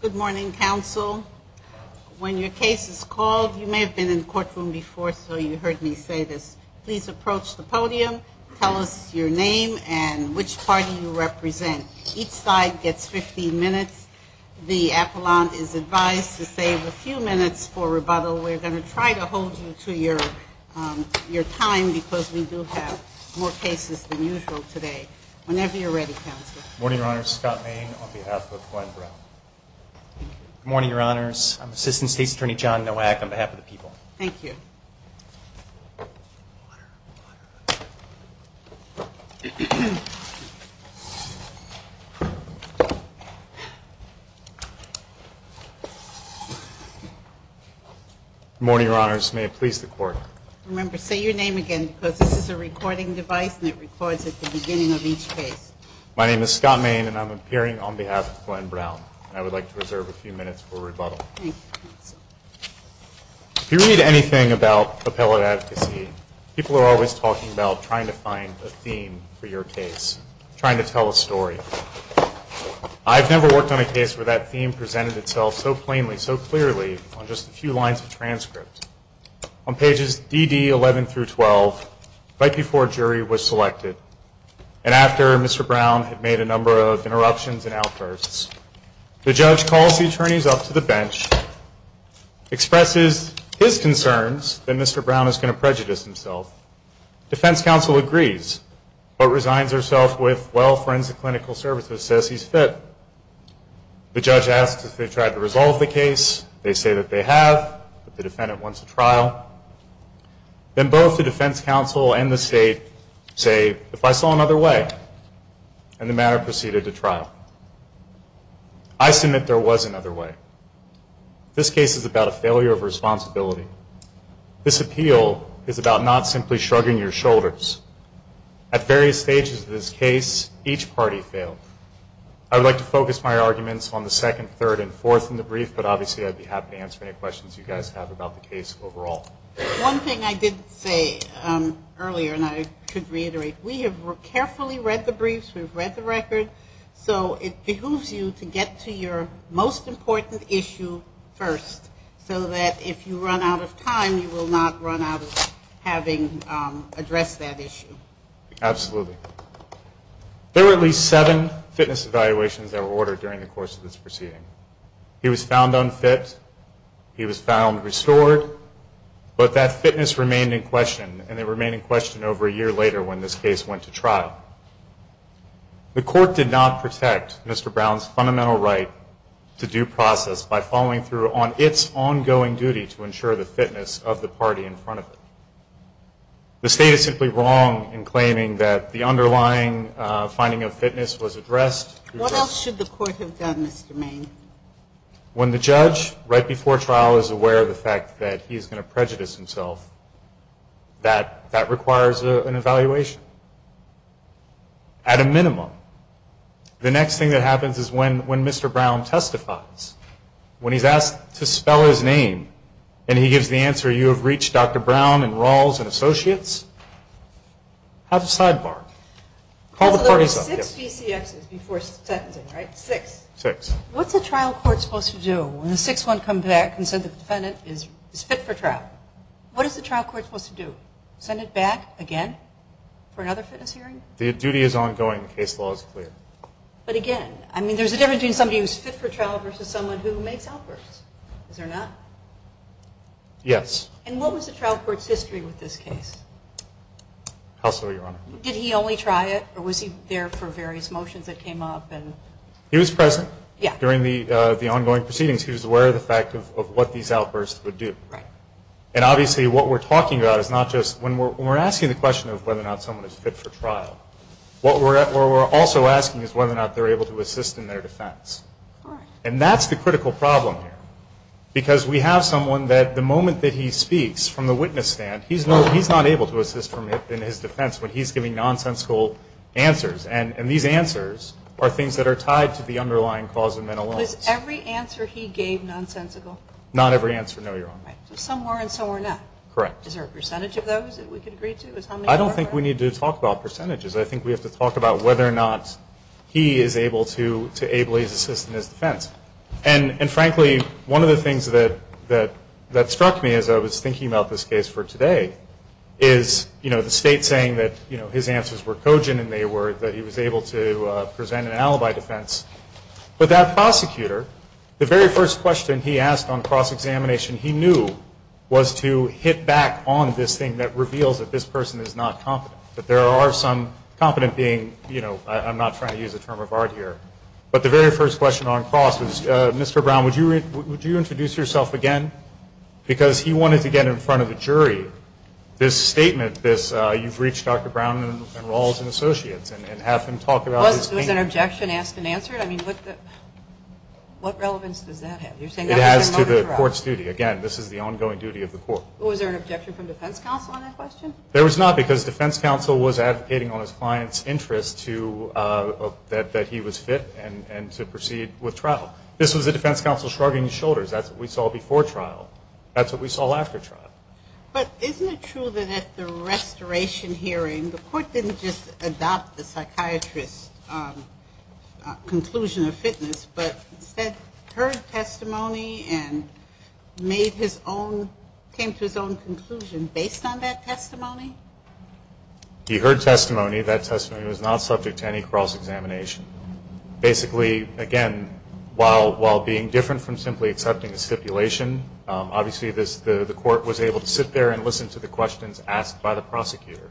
Good morning, counsel. When your case is called, you may have been in the courtroom before, so you heard me say this. Please approach the podium, tell us your name and which party you represent. Each side gets 15 minutes to speak. The appellant is advised to save a few minutes for rebuttal. We're going to try to hold you to your time because we do have more cases than usual today. Whenever you're ready, counsel. Good morning, Your Honors. Scott Main on behalf of Glenn Brown. Good morning, Your Honors. I'm Assistant State's Attorney John Nowak on behalf of the people. Thank you. Good morning, Your Honors. May it please the Court. Remember, say your name again because this is a recording device and it records at the beginning of each case. My name is Scott Main and I'm appearing on behalf of Glenn Brown. I would like to reserve a few minutes for rebuttal. If you read anything about appellate advocacy, people are always talking about trying to find a theme for your case, trying to tell a story. I've never worked on a case where that theme presented itself so plainly, so clearly on just a few lines of transcript. On pages DD11 through 12, right before a jury was selected, and after Mr. Brown had made a number of interruptions and outbursts, the judge calls the attorneys up to the bench, expresses his concerns that Mr. Brown is going to prejudice himself. Defense counsel agrees, but resigns herself with, well, forensic clinical services says he's fit. The judge asks if they tried to resolve the case. They say that they have, but the defendant wants a trial. Then both the defense counsel and the state say, if I saw another way, and the matter proceeded to trial. I submit there was another way. This case is about a failure of responsibility. This appeal is about not simply shrugging your shoulders. At various stages of this case, each party failed. I would like to focus my arguments on the second, third, and fourth in the brief, but obviously I'd be happy to answer any questions you guys have about the case overall. One thing I did say earlier, and I should reiterate, we have carefully read the briefs, we've read the record, so it behooves you to get to your most important issue first, so that if you run out of time, you will not run out of having addressed that issue. Absolutely. There were at least seven fitness evaluations that were ordered during the course of this proceeding. He was found unfit, he was found restored, but that fitness remained in question, and it remained in question over a year later when this case went to trial. The court did not protect Mr. Brown's fundamental right to due process by following through on its ongoing duty to ensure the fitness of the party in front of him. The state is simply wrong in claiming that the underlying finding of fitness was addressed. What else should the court have done, Mr. Maine? When the judge, right before trial, is aware of the fact that he is going to prejudice himself, that requires an evaluation, at a minimum. The next thing that happens is when Mr. Brown testifies, when he's asked to spell his name and he gives the answer, you have reached Dr. Brown and Rawls and Associates, have a sidebar. Call the parties up. So there were six DCXs before sentencing, right? Six. Six. What's a trial court supposed to do when the sixth one comes back and says the defendant is fit for trial? What is the trial court supposed to do? Send it back again for another fitness hearing? The duty is ongoing. The case law is clear. But, again, I mean there's a difference between somebody who's fit for trial versus someone who makes outbursts, is there not? Yes. And what was the trial court's history with this case? How so, Your Honor? Did he only try it or was he there for various motions that came up? He was present during the ongoing proceedings. He was aware of the fact of what these outbursts would do. Right. And, obviously, what we're talking about is not just when we're asking the question of whether or not someone is fit for trial. What we're also asking is whether or not they're able to assist in their defense. All right. And that's the critical problem here because we have someone that the moment that he speaks from the witness stand, he's not able to assist in his defense when he's giving nonsensical answers. And these answers are things that are tied to the underlying cause of mental illness. Was every answer he gave nonsensical? Not every answer, no, Your Honor. Right. So some were and some were not. Correct. Is there a percentage of those that we could agree to? I don't think we need to talk about percentages. I think we have to talk about whether or not he is able to ably assist in his defense. And, frankly, one of the things that struck me as I was thinking about this case for today is, you know, the State saying that his answers were cogent and that he was able to present an alibi defense. But that prosecutor, the very first question he asked on cross-examination, he knew was to hit back on this thing that reveals that this person is not competent, that there are some competent being, you know, I'm not trying to use a term of art here. But the very first question on cross was, Mr. Brown, would you introduce yourself again? Because he wanted to get in front of the jury this statement, this you've reached Dr. Brown and Rawls and Associates and have them talk about this case. Was an objection asked and answered? I mean, what relevance does that have? It has to the court's duty. Again, this is the ongoing duty of the court. Was there an objection from defense counsel on that question? There was not because defense counsel was advocating on his client's interest that he was fit and to proceed with trial. This was the defense counsel shrugging his shoulders. That's what we saw before trial. That's what we saw after trial. But isn't it true that at the restoration hearing, the court didn't just adopt the psychiatrist's conclusion of fitness, but instead heard testimony and made his own, came to his own conclusion based on that testimony? He heard testimony. That testimony was not subject to any cross-examination. Basically, again, while being different from simply accepting a stipulation, obviously the court was able to sit there and listen to the questions asked by the prosecutor.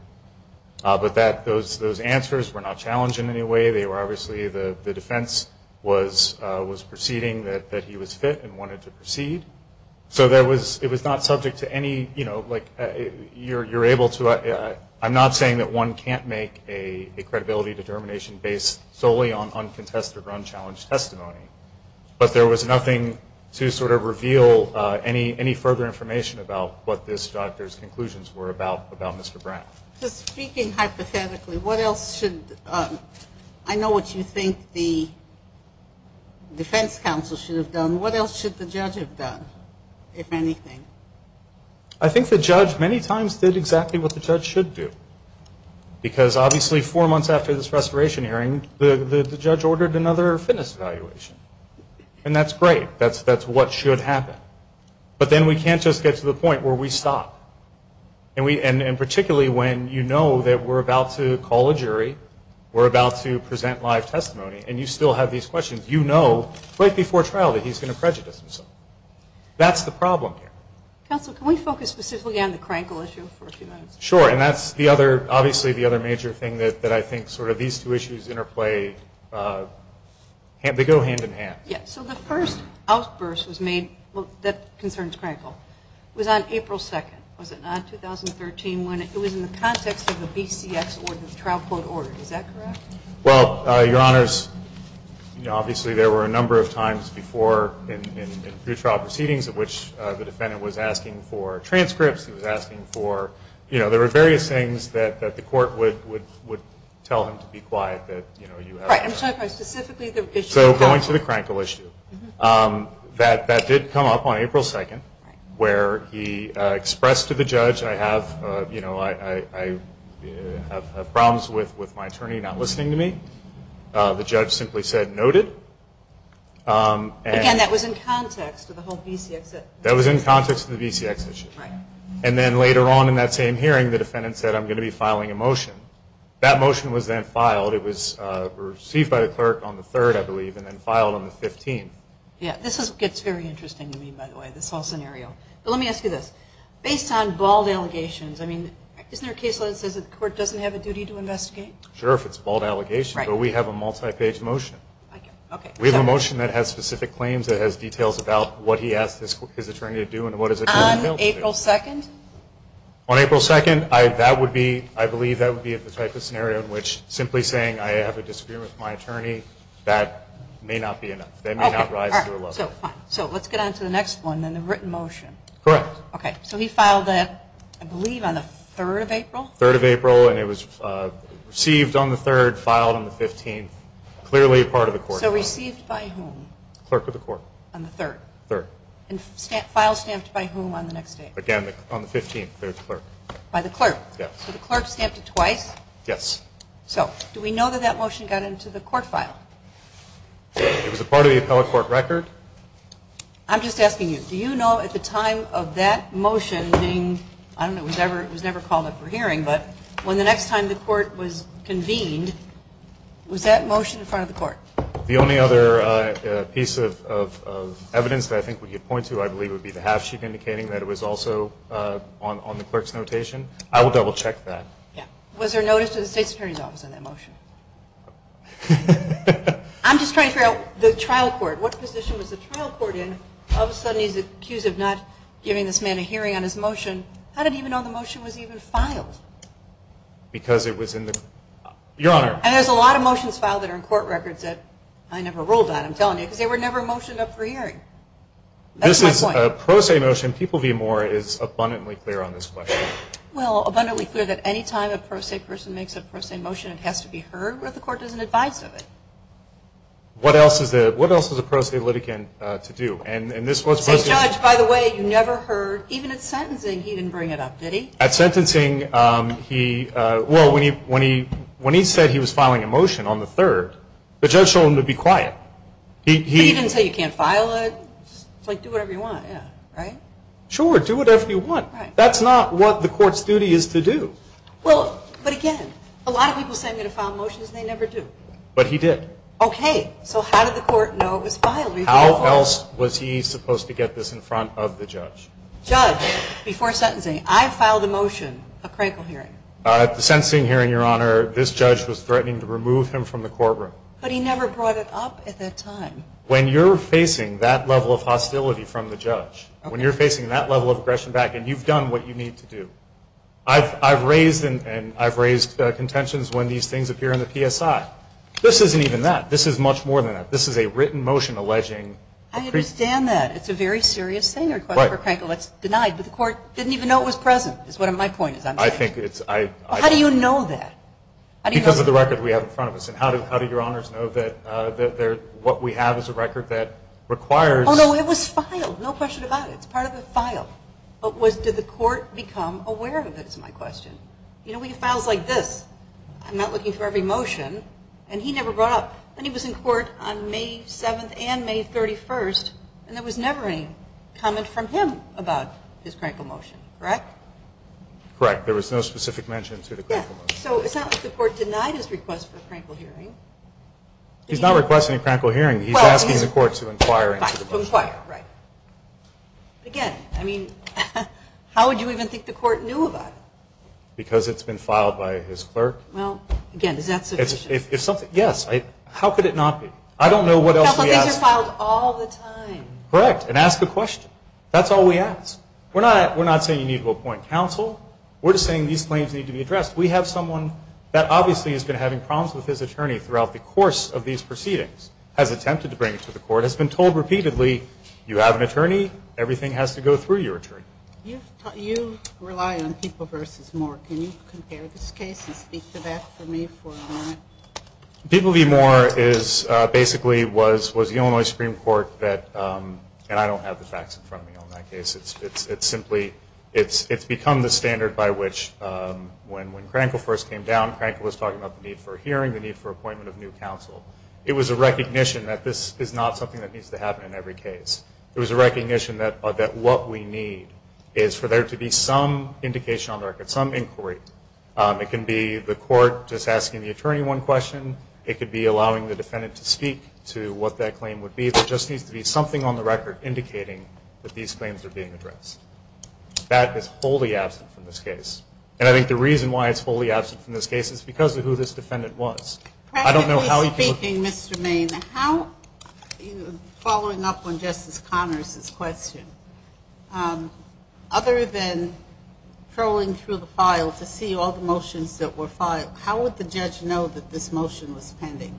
But those answers were not challenged in any way. They were obviously the defense was proceeding that he was fit and wanted to proceed. So it was not subject to any, you know, like you're able to, I'm not saying that one can't make a credibility determination based solely on contested or unchallenged testimony. But there was nothing to sort of reveal any further information about what this doctor's conclusions were about Mr. Brown. Just speaking hypothetically, what else should, I know what you think the defense counsel should have done. What else should the judge have done, if anything? I think the judge many times did exactly what the judge should do. Because obviously four months after this restoration hearing, the judge ordered another fitness evaluation. And that's great. That's what should happen. But then we can't just get to the point where we stop. And particularly when you know that we're about to call a jury, we're about to present live testimony, and you still have these questions. You know right before trial that he's going to prejudice himself. That's the problem here. Counsel, can we focus specifically on the Crankle issue for a few minutes? Sure. And that's the other, obviously the other major thing that I think sort of these two issues interplay. They go hand in hand. Yes. So the first outburst was made, that concerns Crankle, was on April 2nd. Was it not, 2013, when it was in the context of the BCX trial court order. Is that correct? Well, Your Honors, obviously there were a number of times before in pre-trial proceedings in which the defendant was asking for transcripts. He was asking for, you know, there were various things that the court would tell him to be quiet. I'm sorry. Specifically the issue of Crankle. So going to the Crankle issue. That did come up on April 2nd where he expressed to the judge, I have, you know, I have problems with my attorney not listening to me. The judge simply said noted. Again, that was in context of the whole BCX. That was in context of the BCX issue. Right. And then later on in that same hearing the defendant said I'm going to be filing a motion. That motion was then filed. It was received by the clerk on the 3rd, I believe, and then filed on the 15th. Yeah. This gets very interesting to me, by the way, this whole scenario. But let me ask you this. Based on bald allegations, I mean, isn't there a case where it says the court doesn't have a duty to investigate? Sure, if it's a bald allegation. Right. But we have a multi-page motion. I get it. Okay. We have a motion that has specific claims. It has details about what he asked his attorney to do and what his attorney told him to do. On April 2nd? On April 2nd. I believe that would be the type of scenario in which simply saying I have a disagreement with my attorney, that may not be enough. That may not rise to a level. Okay. All right. So let's get on to the next one, then, the written motion. Correct. Okay. So he filed that, I believe, on the 3rd of April? 3rd of April. And it was received on the 3rd, filed on the 15th, clearly a part of the court. So received by whom? Clerk of the court. On the 3rd? 3rd. And file stamped by whom on the next day? Again, on the 15th, the clerk. By the clerk? Yes. So the clerk stamped it twice? Yes. So do we know that that motion got into the court file? It was a part of the appellate court record. I'm just asking you, do you know at the time of that motion being, I don't know, it was never called up for hearing, but when the next time the court was convened, was that motion in front of the court? The only other piece of evidence that I think we could point to, I believe, would be the half sheet indicating that it was also on the clerk's notation. I will double check that. Yeah. Was there notice to the state's attorney's office on that motion? I'm just trying to figure out the trial court. What position was the trial court in? All of a sudden he's accused of not giving this man a hearing on his motion. How did he even know the motion was even filed? Because it was in the court. Your Honor. And there's a lot of motions filed that are in court records that I never ruled on, I'm telling you, because they were never motioned up for hearing. That's my point. This is a pro se motion. People v. Moore is abundantly clear on this question. Well, abundantly clear that any time a pro se person makes a pro se motion, it has to be heard or the court doesn't advise of it. What else is a pro se litigant to do? And this was posted. Judge, by the way, you never heard, even at sentencing, he didn't bring it up, did he? At sentencing, well, when he said he was filing a motion on the third, the judge told him to be quiet. He didn't say you can't file it. It's like do whatever you want, right? Sure, do whatever you want. That's not what the court's duty is to do. Well, but again, a lot of people say I'm going to file motions and they never do. But he did. Okay. So how did the court know it was filed? How else was he supposed to get this in front of the judge? Judge, before sentencing, I filed a motion, a crankle hearing. At the sentencing hearing, Your Honor, this judge was threatening to remove him from the courtroom. But he never brought it up at that time. When you're facing that level of hostility from the judge, when you're facing that level of aggression back and you've done what you need to do, I've raised and I've raised contentions when these things appear in the PSI. This isn't even that. This is much more than that. This is a written motion alleging. I understand that. It's a very serious thing. Right. It's denied, but the court didn't even know it was present is what my point is. I think it's – How do you know that? Because of the record we have in front of us. And how do Your Honors know that what we have is a record that requires – Oh, no, it was filed. No question about it. It's part of the file. But did the court become aware of it is my question. You know, we have files like this. I'm not looking for every motion. And he never brought up – and he was in court on May 7th and May 31st, and there was never any comment from him about his crankle motion. Correct? Correct. There was no specific mention to the crankle motion. So it's not like the court denied his request for a crankle hearing. He's not requesting a crankle hearing. He's asking the court to inquire. Inquire, right. Again, I mean, how would you even think the court knew about it? Because it's been filed by his clerk. Well, again, is that sufficient? Yes. How could it not be? I don't know what else we ask. But these are filed all the time. Correct. And ask a question. That's all we ask. We're not saying you need to appoint counsel. We're just saying these claims need to be addressed. We have someone that obviously has been having problems with his attorney throughout the course of these proceedings, has attempted to bring it to the court, has been told repeatedly, you have an attorney, everything has to go through your attorney. You rely on People v. Moore. Can you compare this case and speak to that for me for a moment? People v. Moore basically was the Illinois Supreme Court that – and I don't have the facts in front of me on that case. It's become the standard by which when Crankle first came down, Crankle was talking about the need for a hearing, the need for appointment of new counsel. It was a recognition that this is not something that needs to happen in every case. It was a recognition that what we need is for there to be some indication on the record, some inquiry. It can be the court just asking the attorney one question. It could be allowing the defendant to speak to what that claim would be. There just needs to be something on the record indicating that these claims are being addressed. That is wholly absent from this case. And I think the reason why it's wholly absent from this case is because of who this defendant was. Practically speaking, Mr. Main, following up on Justice Connors' question, other than trolling through the file to see all the motions that were filed, how would the judge know that this motion was pending?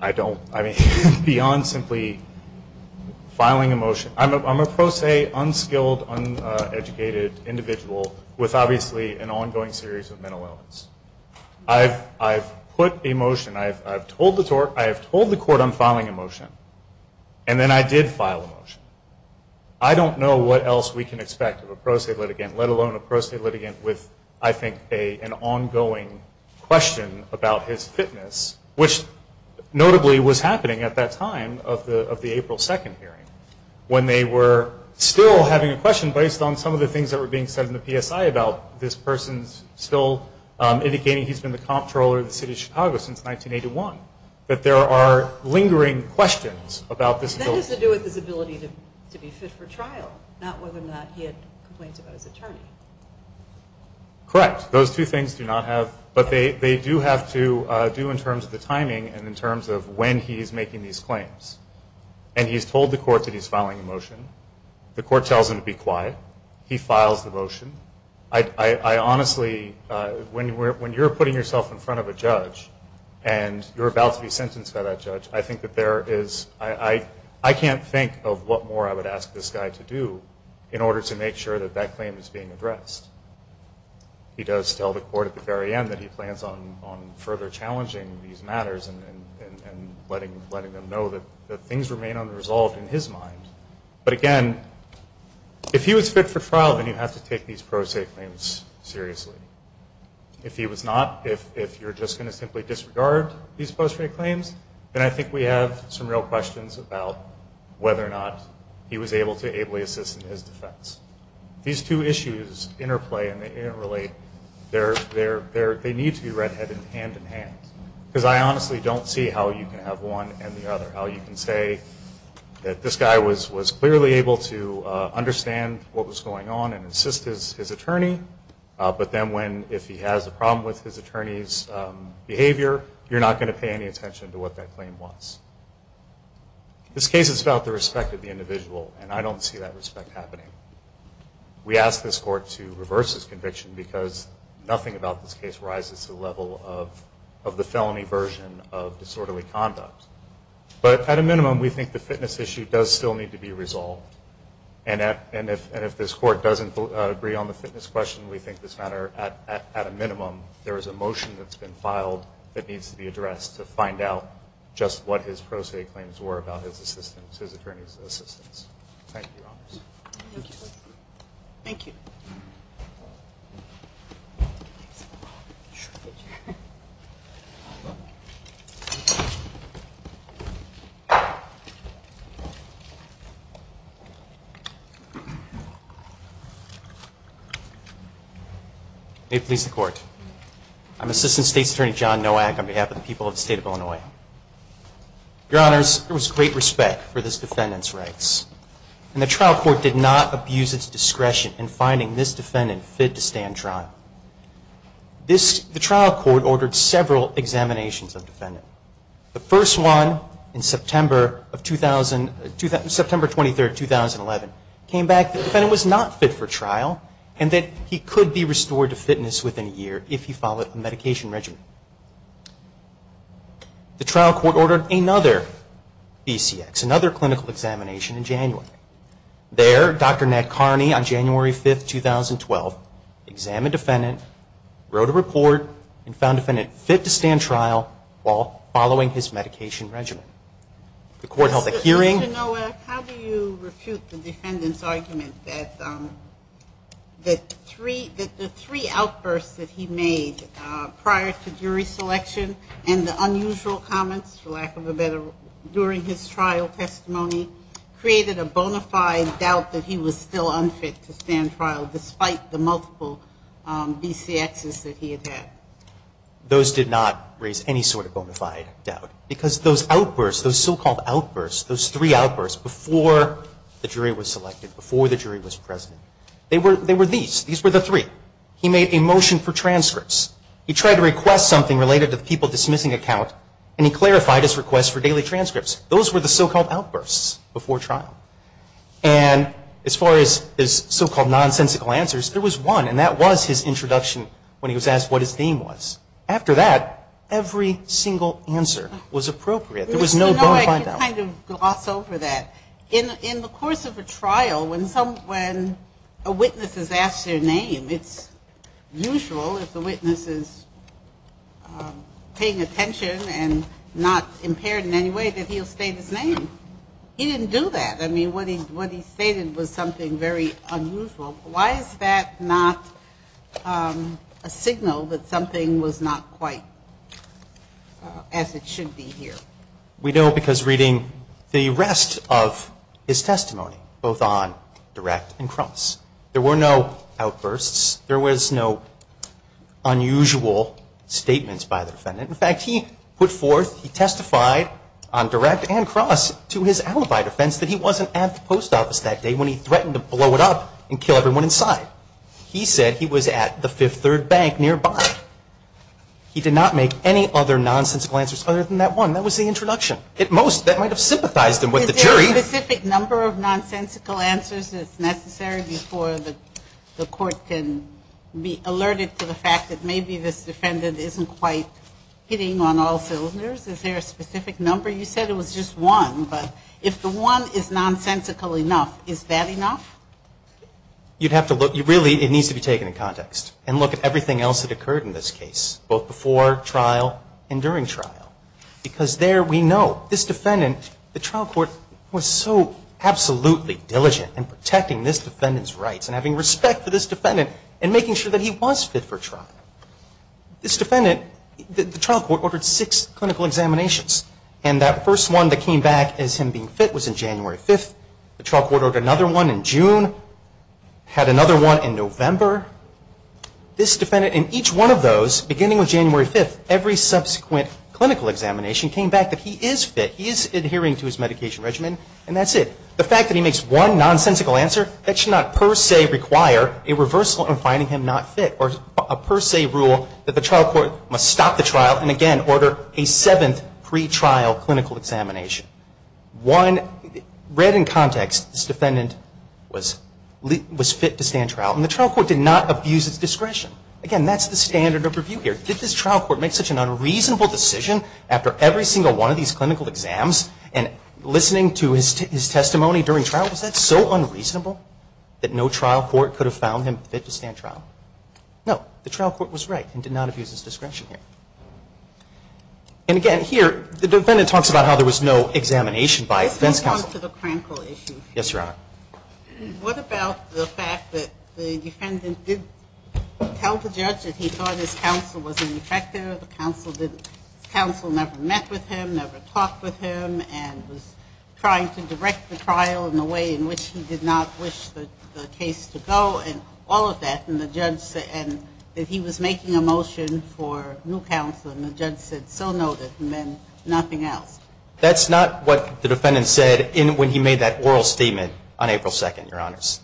I don't. I mean, beyond simply filing a motion, I'm a pro se, unskilled, uneducated individual with obviously an ongoing series of mental illness. I've put a motion. I've told the court I'm filing a motion, and then I did file a motion. I don't know what else we can expect of a pro se litigant, let alone a pro se litigant with, I think, an ongoing question about his fitness, which notably was happening at that time of the April 2nd hearing when they were still having a question based on some of the things that were being said in the PSI about this person still indicating he's been the comptroller of the city of Chicago since 1981, that there are lingering questions about this bill. I mean, to be fit for trial, not whether or not he had complaints about his attorney. Correct. Those two things do not have – but they do have to do in terms of the timing and in terms of when he's making these claims. And he's told the court that he's filing a motion. The court tells him to be quiet. He files the motion. I honestly – when you're putting yourself in front of a judge and you're about to be sentenced by that judge, I think that there is – I can't think of what more I would ask this guy to do in order to make sure that that claim is being addressed. He does tell the court at the very end that he plans on further challenging these matters and letting them know that things remain unresolved in his mind. But, again, if he was fit for trial, then you have to take these pro se claims seriously. If he was not, if you're just going to simply disregard these post-trade claims, then I think we have some real questions about whether or not he was able to ably assist in his defense. These two issues interplay, and they interrelate. They need to be red-headed hand-in-hand, because I honestly don't see how you can have one and the other, how you can say that this guy was clearly able to understand what was going on and assist his attorney, but then when – if he has a problem with his attorney's behavior, you're not going to pay any attention to what that claim was. This case is about the respect of the individual, and I don't see that respect happening. We asked this court to reverse his conviction because nothing about this case rises to the level of the felony version of disorderly conduct. But at a minimum, we think the fitness issue does still need to be resolved. And if this court doesn't agree on the fitness question, we think this matter, at a minimum, there is a motion that's been filed that needs to be addressed to find out just what his pro se claims were about his attorney's assistance. Thank you, Your Honors. Thank you. May it please the Court. I'm Assistant State's Attorney John Nowak on behalf of the people of the State of Illinois. Your Honors, there was great respect for this defendant's rights, and the trial court did not abuse its discretion in finding this defendant fit to stand trial. The trial court ordered several examinations of the defendant. The first one, in September 23, 2011, came back that the defendant was not fit for trial and that he could be restored to fitness within a year if he followed a medication regimen. The trial court ordered another BCX, another clinical examination, in January. There, Dr. Ned Carney, on January 5, 2012, examined the defendant, wrote a report, and found the defendant fit to stand trial while following his medication regimen. The court held a hearing. Mr. Nowak, how do you refute the defendant's argument that the three outbursts that he made prior to January 5, the jury selection and the unusual comments, for lack of a better word, during his trial testimony, created a bona fide doubt that he was still unfit to stand trial despite the multiple BCXs that he had had? Those did not raise any sort of bona fide doubt because those outbursts, those so-called outbursts, those three outbursts before the jury was selected, before the jury was present, they were these. These were the three. He made a motion for transcripts. He tried to request something related to the people dismissing account, and he clarified his request for daily transcripts. Those were the so-called outbursts before trial. And as far as his so-called nonsensical answers, there was one, and that was his introduction when he was asked what his theme was. After that, every single answer was appropriate. There was no bona fide doubt. Mr. Nowak can kind of gloss over that. In the course of a trial, when a witness is asked their name, it's usual if the witness is paying attention and not impaired in any way that he'll state his name. He didn't do that. I mean, what he stated was something very unusual. Why is that not a signal that something was not quite as it should be here? We know because reading the rest of his testimony, both on direct and cross, there were no outbursts. There was no unusual statements by the defendant. In fact, he put forth, he testified on direct and cross to his alibi defense that he wasn't at the post office that day when he threatened to blow it up and kill everyone inside. He said he was at the Fifth Third Bank nearby. He did not make any other nonsensical answers other than that one. That was the introduction. At most, that might have sympathized him with the jury. Is there a specific number of nonsensical answers that's necessary before the court can be alerted to the fact that maybe this defendant isn't quite hitting on all cylinders? Is there a specific number? You said it was just one. But if the one is nonsensical enough, is that enough? You'd have to look. Really, it needs to be taken in context and look at everything else that occurred in this case, both before trial and during trial, because there we know this defendant, the trial court was so absolutely diligent in protecting this defendant's rights and having respect for this defendant and making sure that he was fit for trial. This defendant, the trial court ordered six clinical examinations, and that first one that came back as him being fit was in January 5th. The trial court ordered another one in June, had another one in November. This defendant, in each one of those, beginning with January 5th, every subsequent clinical examination came back that he is fit, he is adhering to his medication regimen, and that's it. The fact that he makes one nonsensical answer, that should not per se require a reversal in finding him not fit or a per se rule that the trial court must stop the trial and again order a seventh pretrial clinical examination. One, read in context, this defendant was fit to stand trial. And the trial court did not abuse his discretion. Again, that's the standard of review here. Did this trial court make such an unreasonable decision after every single one of these clinical exams and listening to his testimony during trial? Was that so unreasonable that no trial court could have found him fit to stand trial? No, the trial court was right and did not abuse his discretion here. And again, here, the defendant talks about how there was no examination by defense counsel. Let's move on to the clinical issue. Yes, Your Honor. What about the fact that the defendant did tell the judge that he thought his counsel was ineffective, the counsel never met with him, never talked with him, and was trying to direct the trial in a way in which he did not wish the case to go and all of that. And the judge said that he was making a motion for new counsel, and the judge said so noted and then nothing else. That's not what the defendant said when he made that oral statement on April 2nd, Your Honors.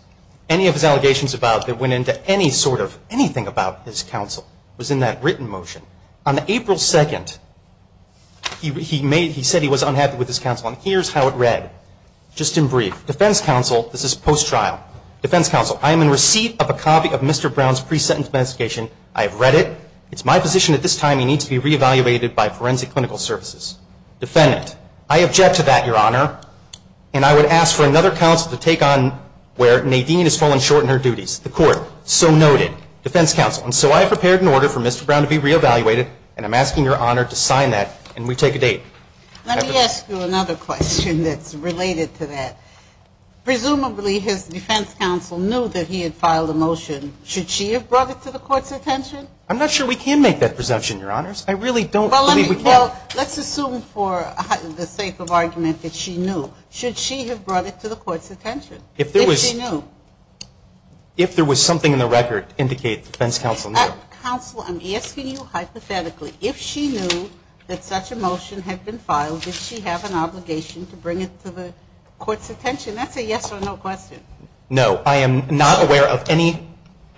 Any of his allegations about that went into any sort of anything about his counsel was in that written motion. On April 2nd, he said he was unhappy with his counsel. And here's how it read, just in brief. Defense counsel, this is post-trial. Defense counsel, I am in receipt of a copy of Mr. Brown's pre-sentence investigation. I have read it. It's my position at this time he needs to be reevaluated by forensic clinical services. Defendant, I object to that, Your Honor, and I would ask for another counsel to take on where Nadine has fallen short in her duties. The court, so noted. Defense counsel, and so I have prepared an order for Mr. Brown to be reevaluated, and I'm asking Your Honor to sign that, and we take a date. Let me ask you another question that's related to that. Presumably, his defense counsel knew that he had filed a motion. Should she have brought it to the Court's attention? I'm not sure we can make that presumption, Your Honors. I really don't believe we can. Well, let's assume for the sake of argument that she knew. Should she have brought it to the Court's attention if she knew? If there was something in the record to indicate the defense counsel knew. Counsel, I'm asking you hypothetically. If she knew that such a motion had been filed, does she have an obligation to bring it to the Court's attention? That's a yes or no question. No, I am not aware of any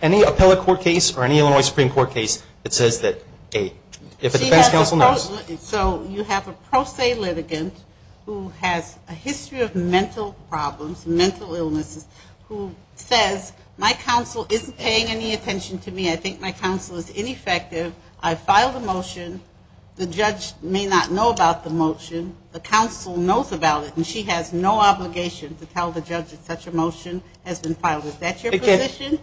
appellate court case or any Illinois Supreme Court case that says that if a defense counsel knows. So you have a pro se litigant who has a history of mental problems, mental illnesses, who says, my counsel isn't paying any attention to me. I think my counsel is ineffective. I filed a motion. The judge may not know about the motion. The counsel knows about it, and she has no obligation to tell the judge that such a motion has been filed. Is that your position?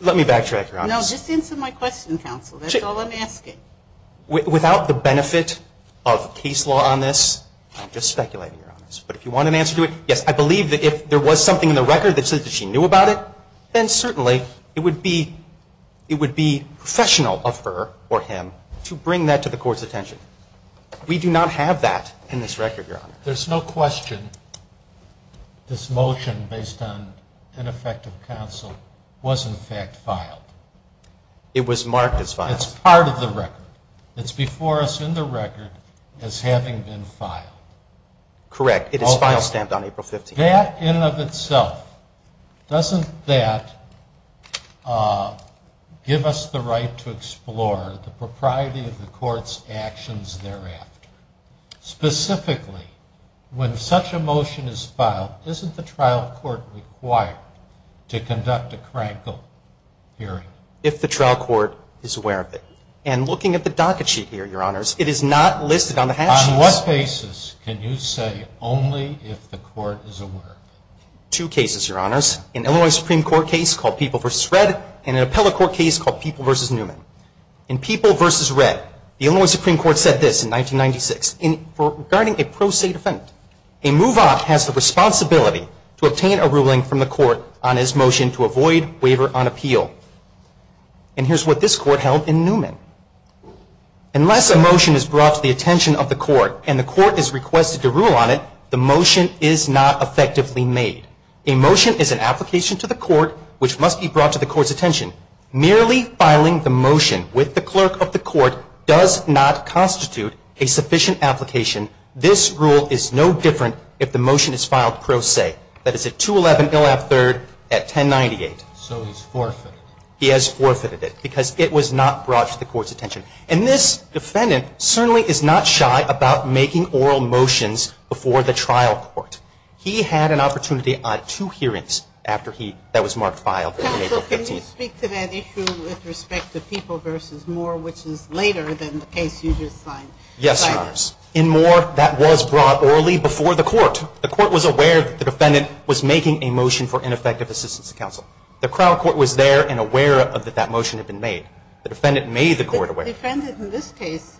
Let me backtrack, Your Honors. No, just answer my question, Counsel. That's all I'm asking. Without the benefit of case law on this, I'm just speculating, Your Honors. But if you want an answer to it, yes, I believe that if there was something in the record that says that she knew about it, then certainly it would be professional of her or him to bring that to the Court's attention. We do not have that in this record, Your Honor. There's no question this motion based on ineffective counsel was, in fact, filed. It was marked as filed. It's part of the record. It's before us in the record as having been filed. Correct. It is file stamped on April 15th. That in and of itself, doesn't that give us the right to explore the propriety of the Court's actions thereafter? Specifically, when such a motion is filed, isn't the trial court required to conduct a crankle hearing? If the trial court is aware of it. And looking at the docket sheet here, Your Honors, it is not listed on the hatch. On what cases can you say only if the court is aware? Two cases, Your Honors. An Illinois Supreme Court case called People v. Red and an appellate court case called People v. Newman. In People v. Red, the Illinois Supreme Court said this in 1996. Regarding a pro se defense, a move-up has the responsibility to obtain a ruling from the court on his motion to avoid waiver on appeal. And here's what this court held in Newman. Unless a motion is brought to the attention of the court and the court is requested to rule on it, the motion is not effectively made. A motion is an application to the court, which must be brought to the court's attention. Merely filing the motion with the clerk of the court does not constitute a sufficient application. This rule is no different if the motion is filed pro se. That is at 211 Ill. F. 3rd at 1098. So he's forfeited. He has forfeited it because it was not brought to the court's attention. And this defendant certainly is not shy about making oral motions before the trial court. He had an opportunity on two hearings that was marked filed on April 15th. Can you speak to that issue with respect to People v. Moore, which is later than the case you just signed? Yes, Your Honors. In Moore, that was brought orally before the court. The court was aware that the defendant was making a motion for ineffective assistance to counsel. The trial court was there and aware that that motion had been made. The defendant made the court aware. The defendant in this case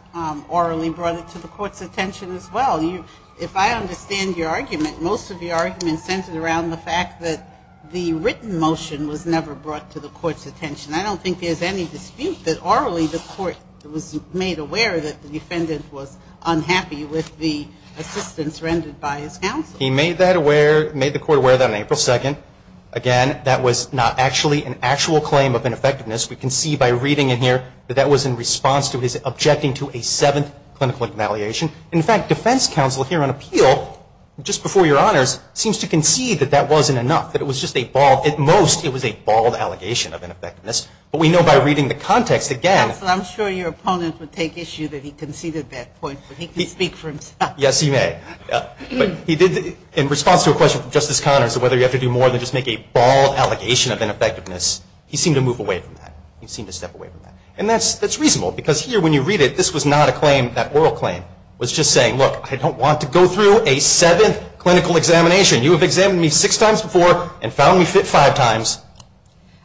orally brought it to the court's attention as well. If I understand your argument, most of your argument centered around the fact that the written motion was never brought to the court's attention. I don't think there's any dispute that orally the court was made aware that the defendant was unhappy with the assistance rendered by his counsel. He made that aware, made the court aware of that on April 2nd. Again, that was not actually an actual claim of ineffectiveness. We can see by reading it here that that was in response to his objecting to a seventh clinical evaluation. In fact, defense counsel here on appeal, just before Your Honors, seems to concede that that wasn't enough, that it was just a bald, at most, it was a bald allegation of ineffectiveness. But we know by reading the context again. Counsel, I'm sure your opponent would take issue that he conceded that point, but he can speak for himself. Yes, he may. But he did, in response to a question from Justice Connors of whether you have to do more than just make a bald allegation of ineffectiveness, he seemed to move away from that. He seemed to step away from that. And that's reasonable, because here when you read it, this was not a claim, that oral claim. It was just saying, look, I don't want to go through a seventh clinical examination. You have examined me six times before and found me fit five times.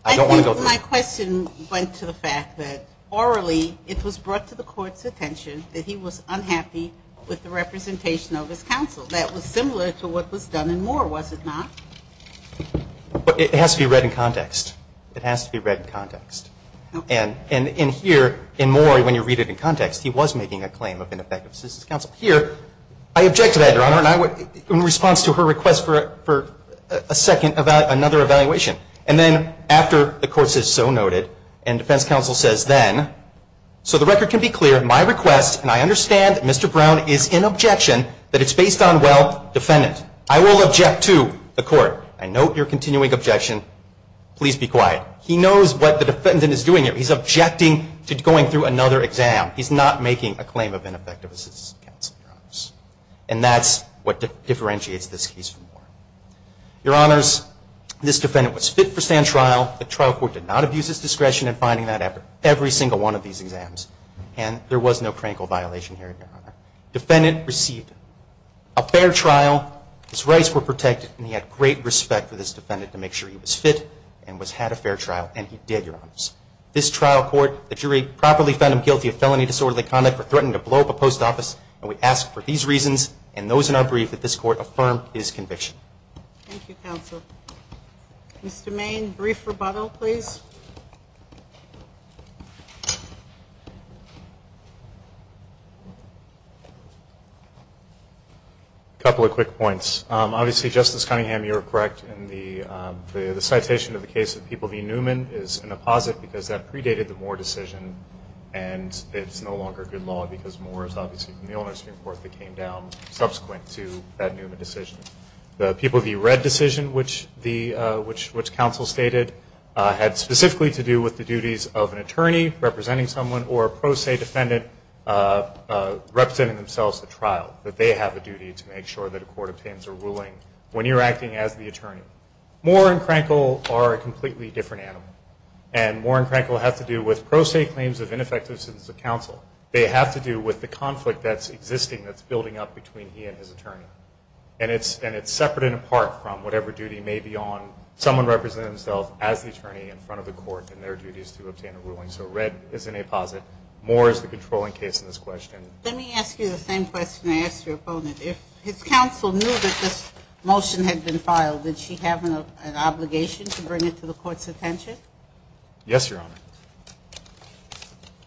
I don't want to go through it. I think my question went to the fact that orally it was brought to the court's attention that he was unhappy with the representation of his counsel. That was similar to what was done in Moore, was it not? But it has to be read in context. It has to be read in context. And in here, in Moore, when you read it in context, he was making a claim of ineffective assistance counsel. Here, I object to that, Your Honor, and I would, in response to her request for a second, another evaluation. And then after the court says so noted, and defense counsel says then, so the record can be clear. My request, and I understand that Mr. Brown is in objection, that it's based on, well, defendant. I will object to the court. I note your continuing objection. Please be quiet. He knows what the defendant is doing here. He's objecting to going through another exam. He's not making a claim of ineffective assistance counsel, Your Honors. And that's what differentiates this case from Moore. Your Honors, this defendant was fit for stand trial. The trial court did not abuse his discretion in finding that after every single one of these exams. And there was no crankle violation here, Your Honor. Defendant received a fair trial. His rights were protected, and he had great respect for this defendant to make sure he was fit and had a fair trial, and he did, Your Honors. This trial court, the jury properly found him guilty of felony disorderly conduct for threatening to blow up a post office, and we ask for these reasons and those in our brief that this court affirm his conviction. Thank you, counsel. Mr. Main, brief rebuttal, please. A couple of quick points. Obviously, Justice Cunningham, you're correct in the citation of the case of People v. Newman is an apposite because that predated the Moore decision, and it's no longer good law because Moore is obviously from the old nursing court that came down subsequent to that Newman decision. The People v. Red decision, which counsel stated, had specific reasons. Specifically to do with the duties of an attorney representing someone or a pro se defendant representing themselves at trial, that they have a duty to make sure that a court obtains a ruling when you're acting as the attorney. Moore and Crankle are a completely different animal, and Moore and Crankle have to do with pro se claims of ineffective citizens of counsel. They have to do with the conflict that's existing, that's building up between he and his attorney, and it's separate and apart from whatever duty may be on someone representing themselves as the attorney in front of the court and their duties to obtain a ruling. So Red is an apposite. Moore is the controlling case in this question. Let me ask you the same question I asked your opponent. If his counsel knew that this motion had been filed, did she have an obligation to bring it to the court's attention? Yes, Your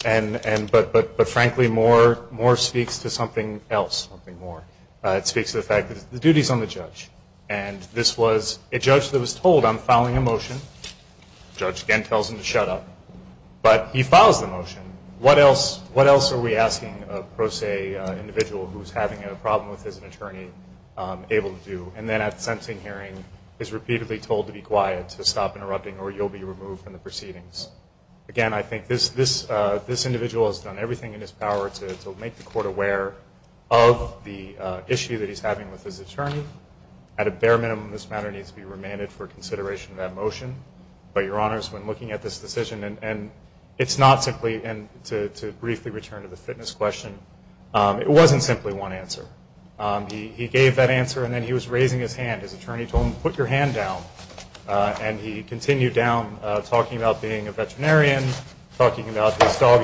Honor. But frankly, Moore speaks to something else, something more. It speaks to the fact that the duty is on the judge, and this was a judge that was told, I'm filing a motion. The judge again tells him to shut up. But he files the motion. What else are we asking a pro se individual who's having a problem with his attorney able to do? And then at the sentencing hearing is repeatedly told to be quiet, to stop interrupting, or you'll be removed from the proceedings. Again, I think this individual has done everything in his power to make the court aware of the issue that he's having with his attorney. At a bare minimum, this matter needs to be remanded for consideration of that motion. But, Your Honors, when looking at this decision, and it's not simply, and to briefly return to the fitness question, it wasn't simply one answer. He gave that answer, and then he was raising his hand. His attorney told him, put your hand down. And he continued down, talking about being a veterinarian, talking about his dog,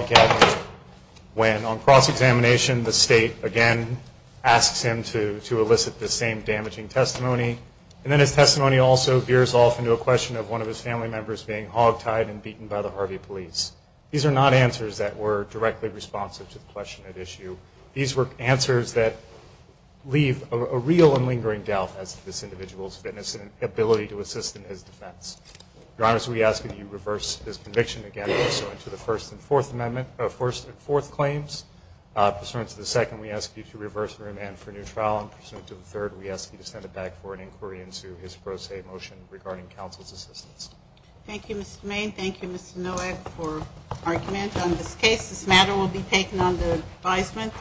when on cross-examination the state, again, asks him to elicit the same damaging testimony. And then his testimony also veers off into a question of one of his family members being hogtied and beaten by the Harvey police. These are not answers that were directly responsive to the question at issue. These were answers that leave a real and lingering doubt as to this individual's fitness and ability to assist in his defense. Your Honors, we ask that you reverse this conviction, again, pursuant to the First and Fourth Claims. Pursuant to the second, we ask you to reverse the remand for a new trial. And pursuant to the third, we ask you to send it back for an inquiry into his pro se motion regarding counsel's assistance. Thank you, Mr. Main. Thank you, Mr. Nowak, for argument on this case. This matter will be taken under advisement.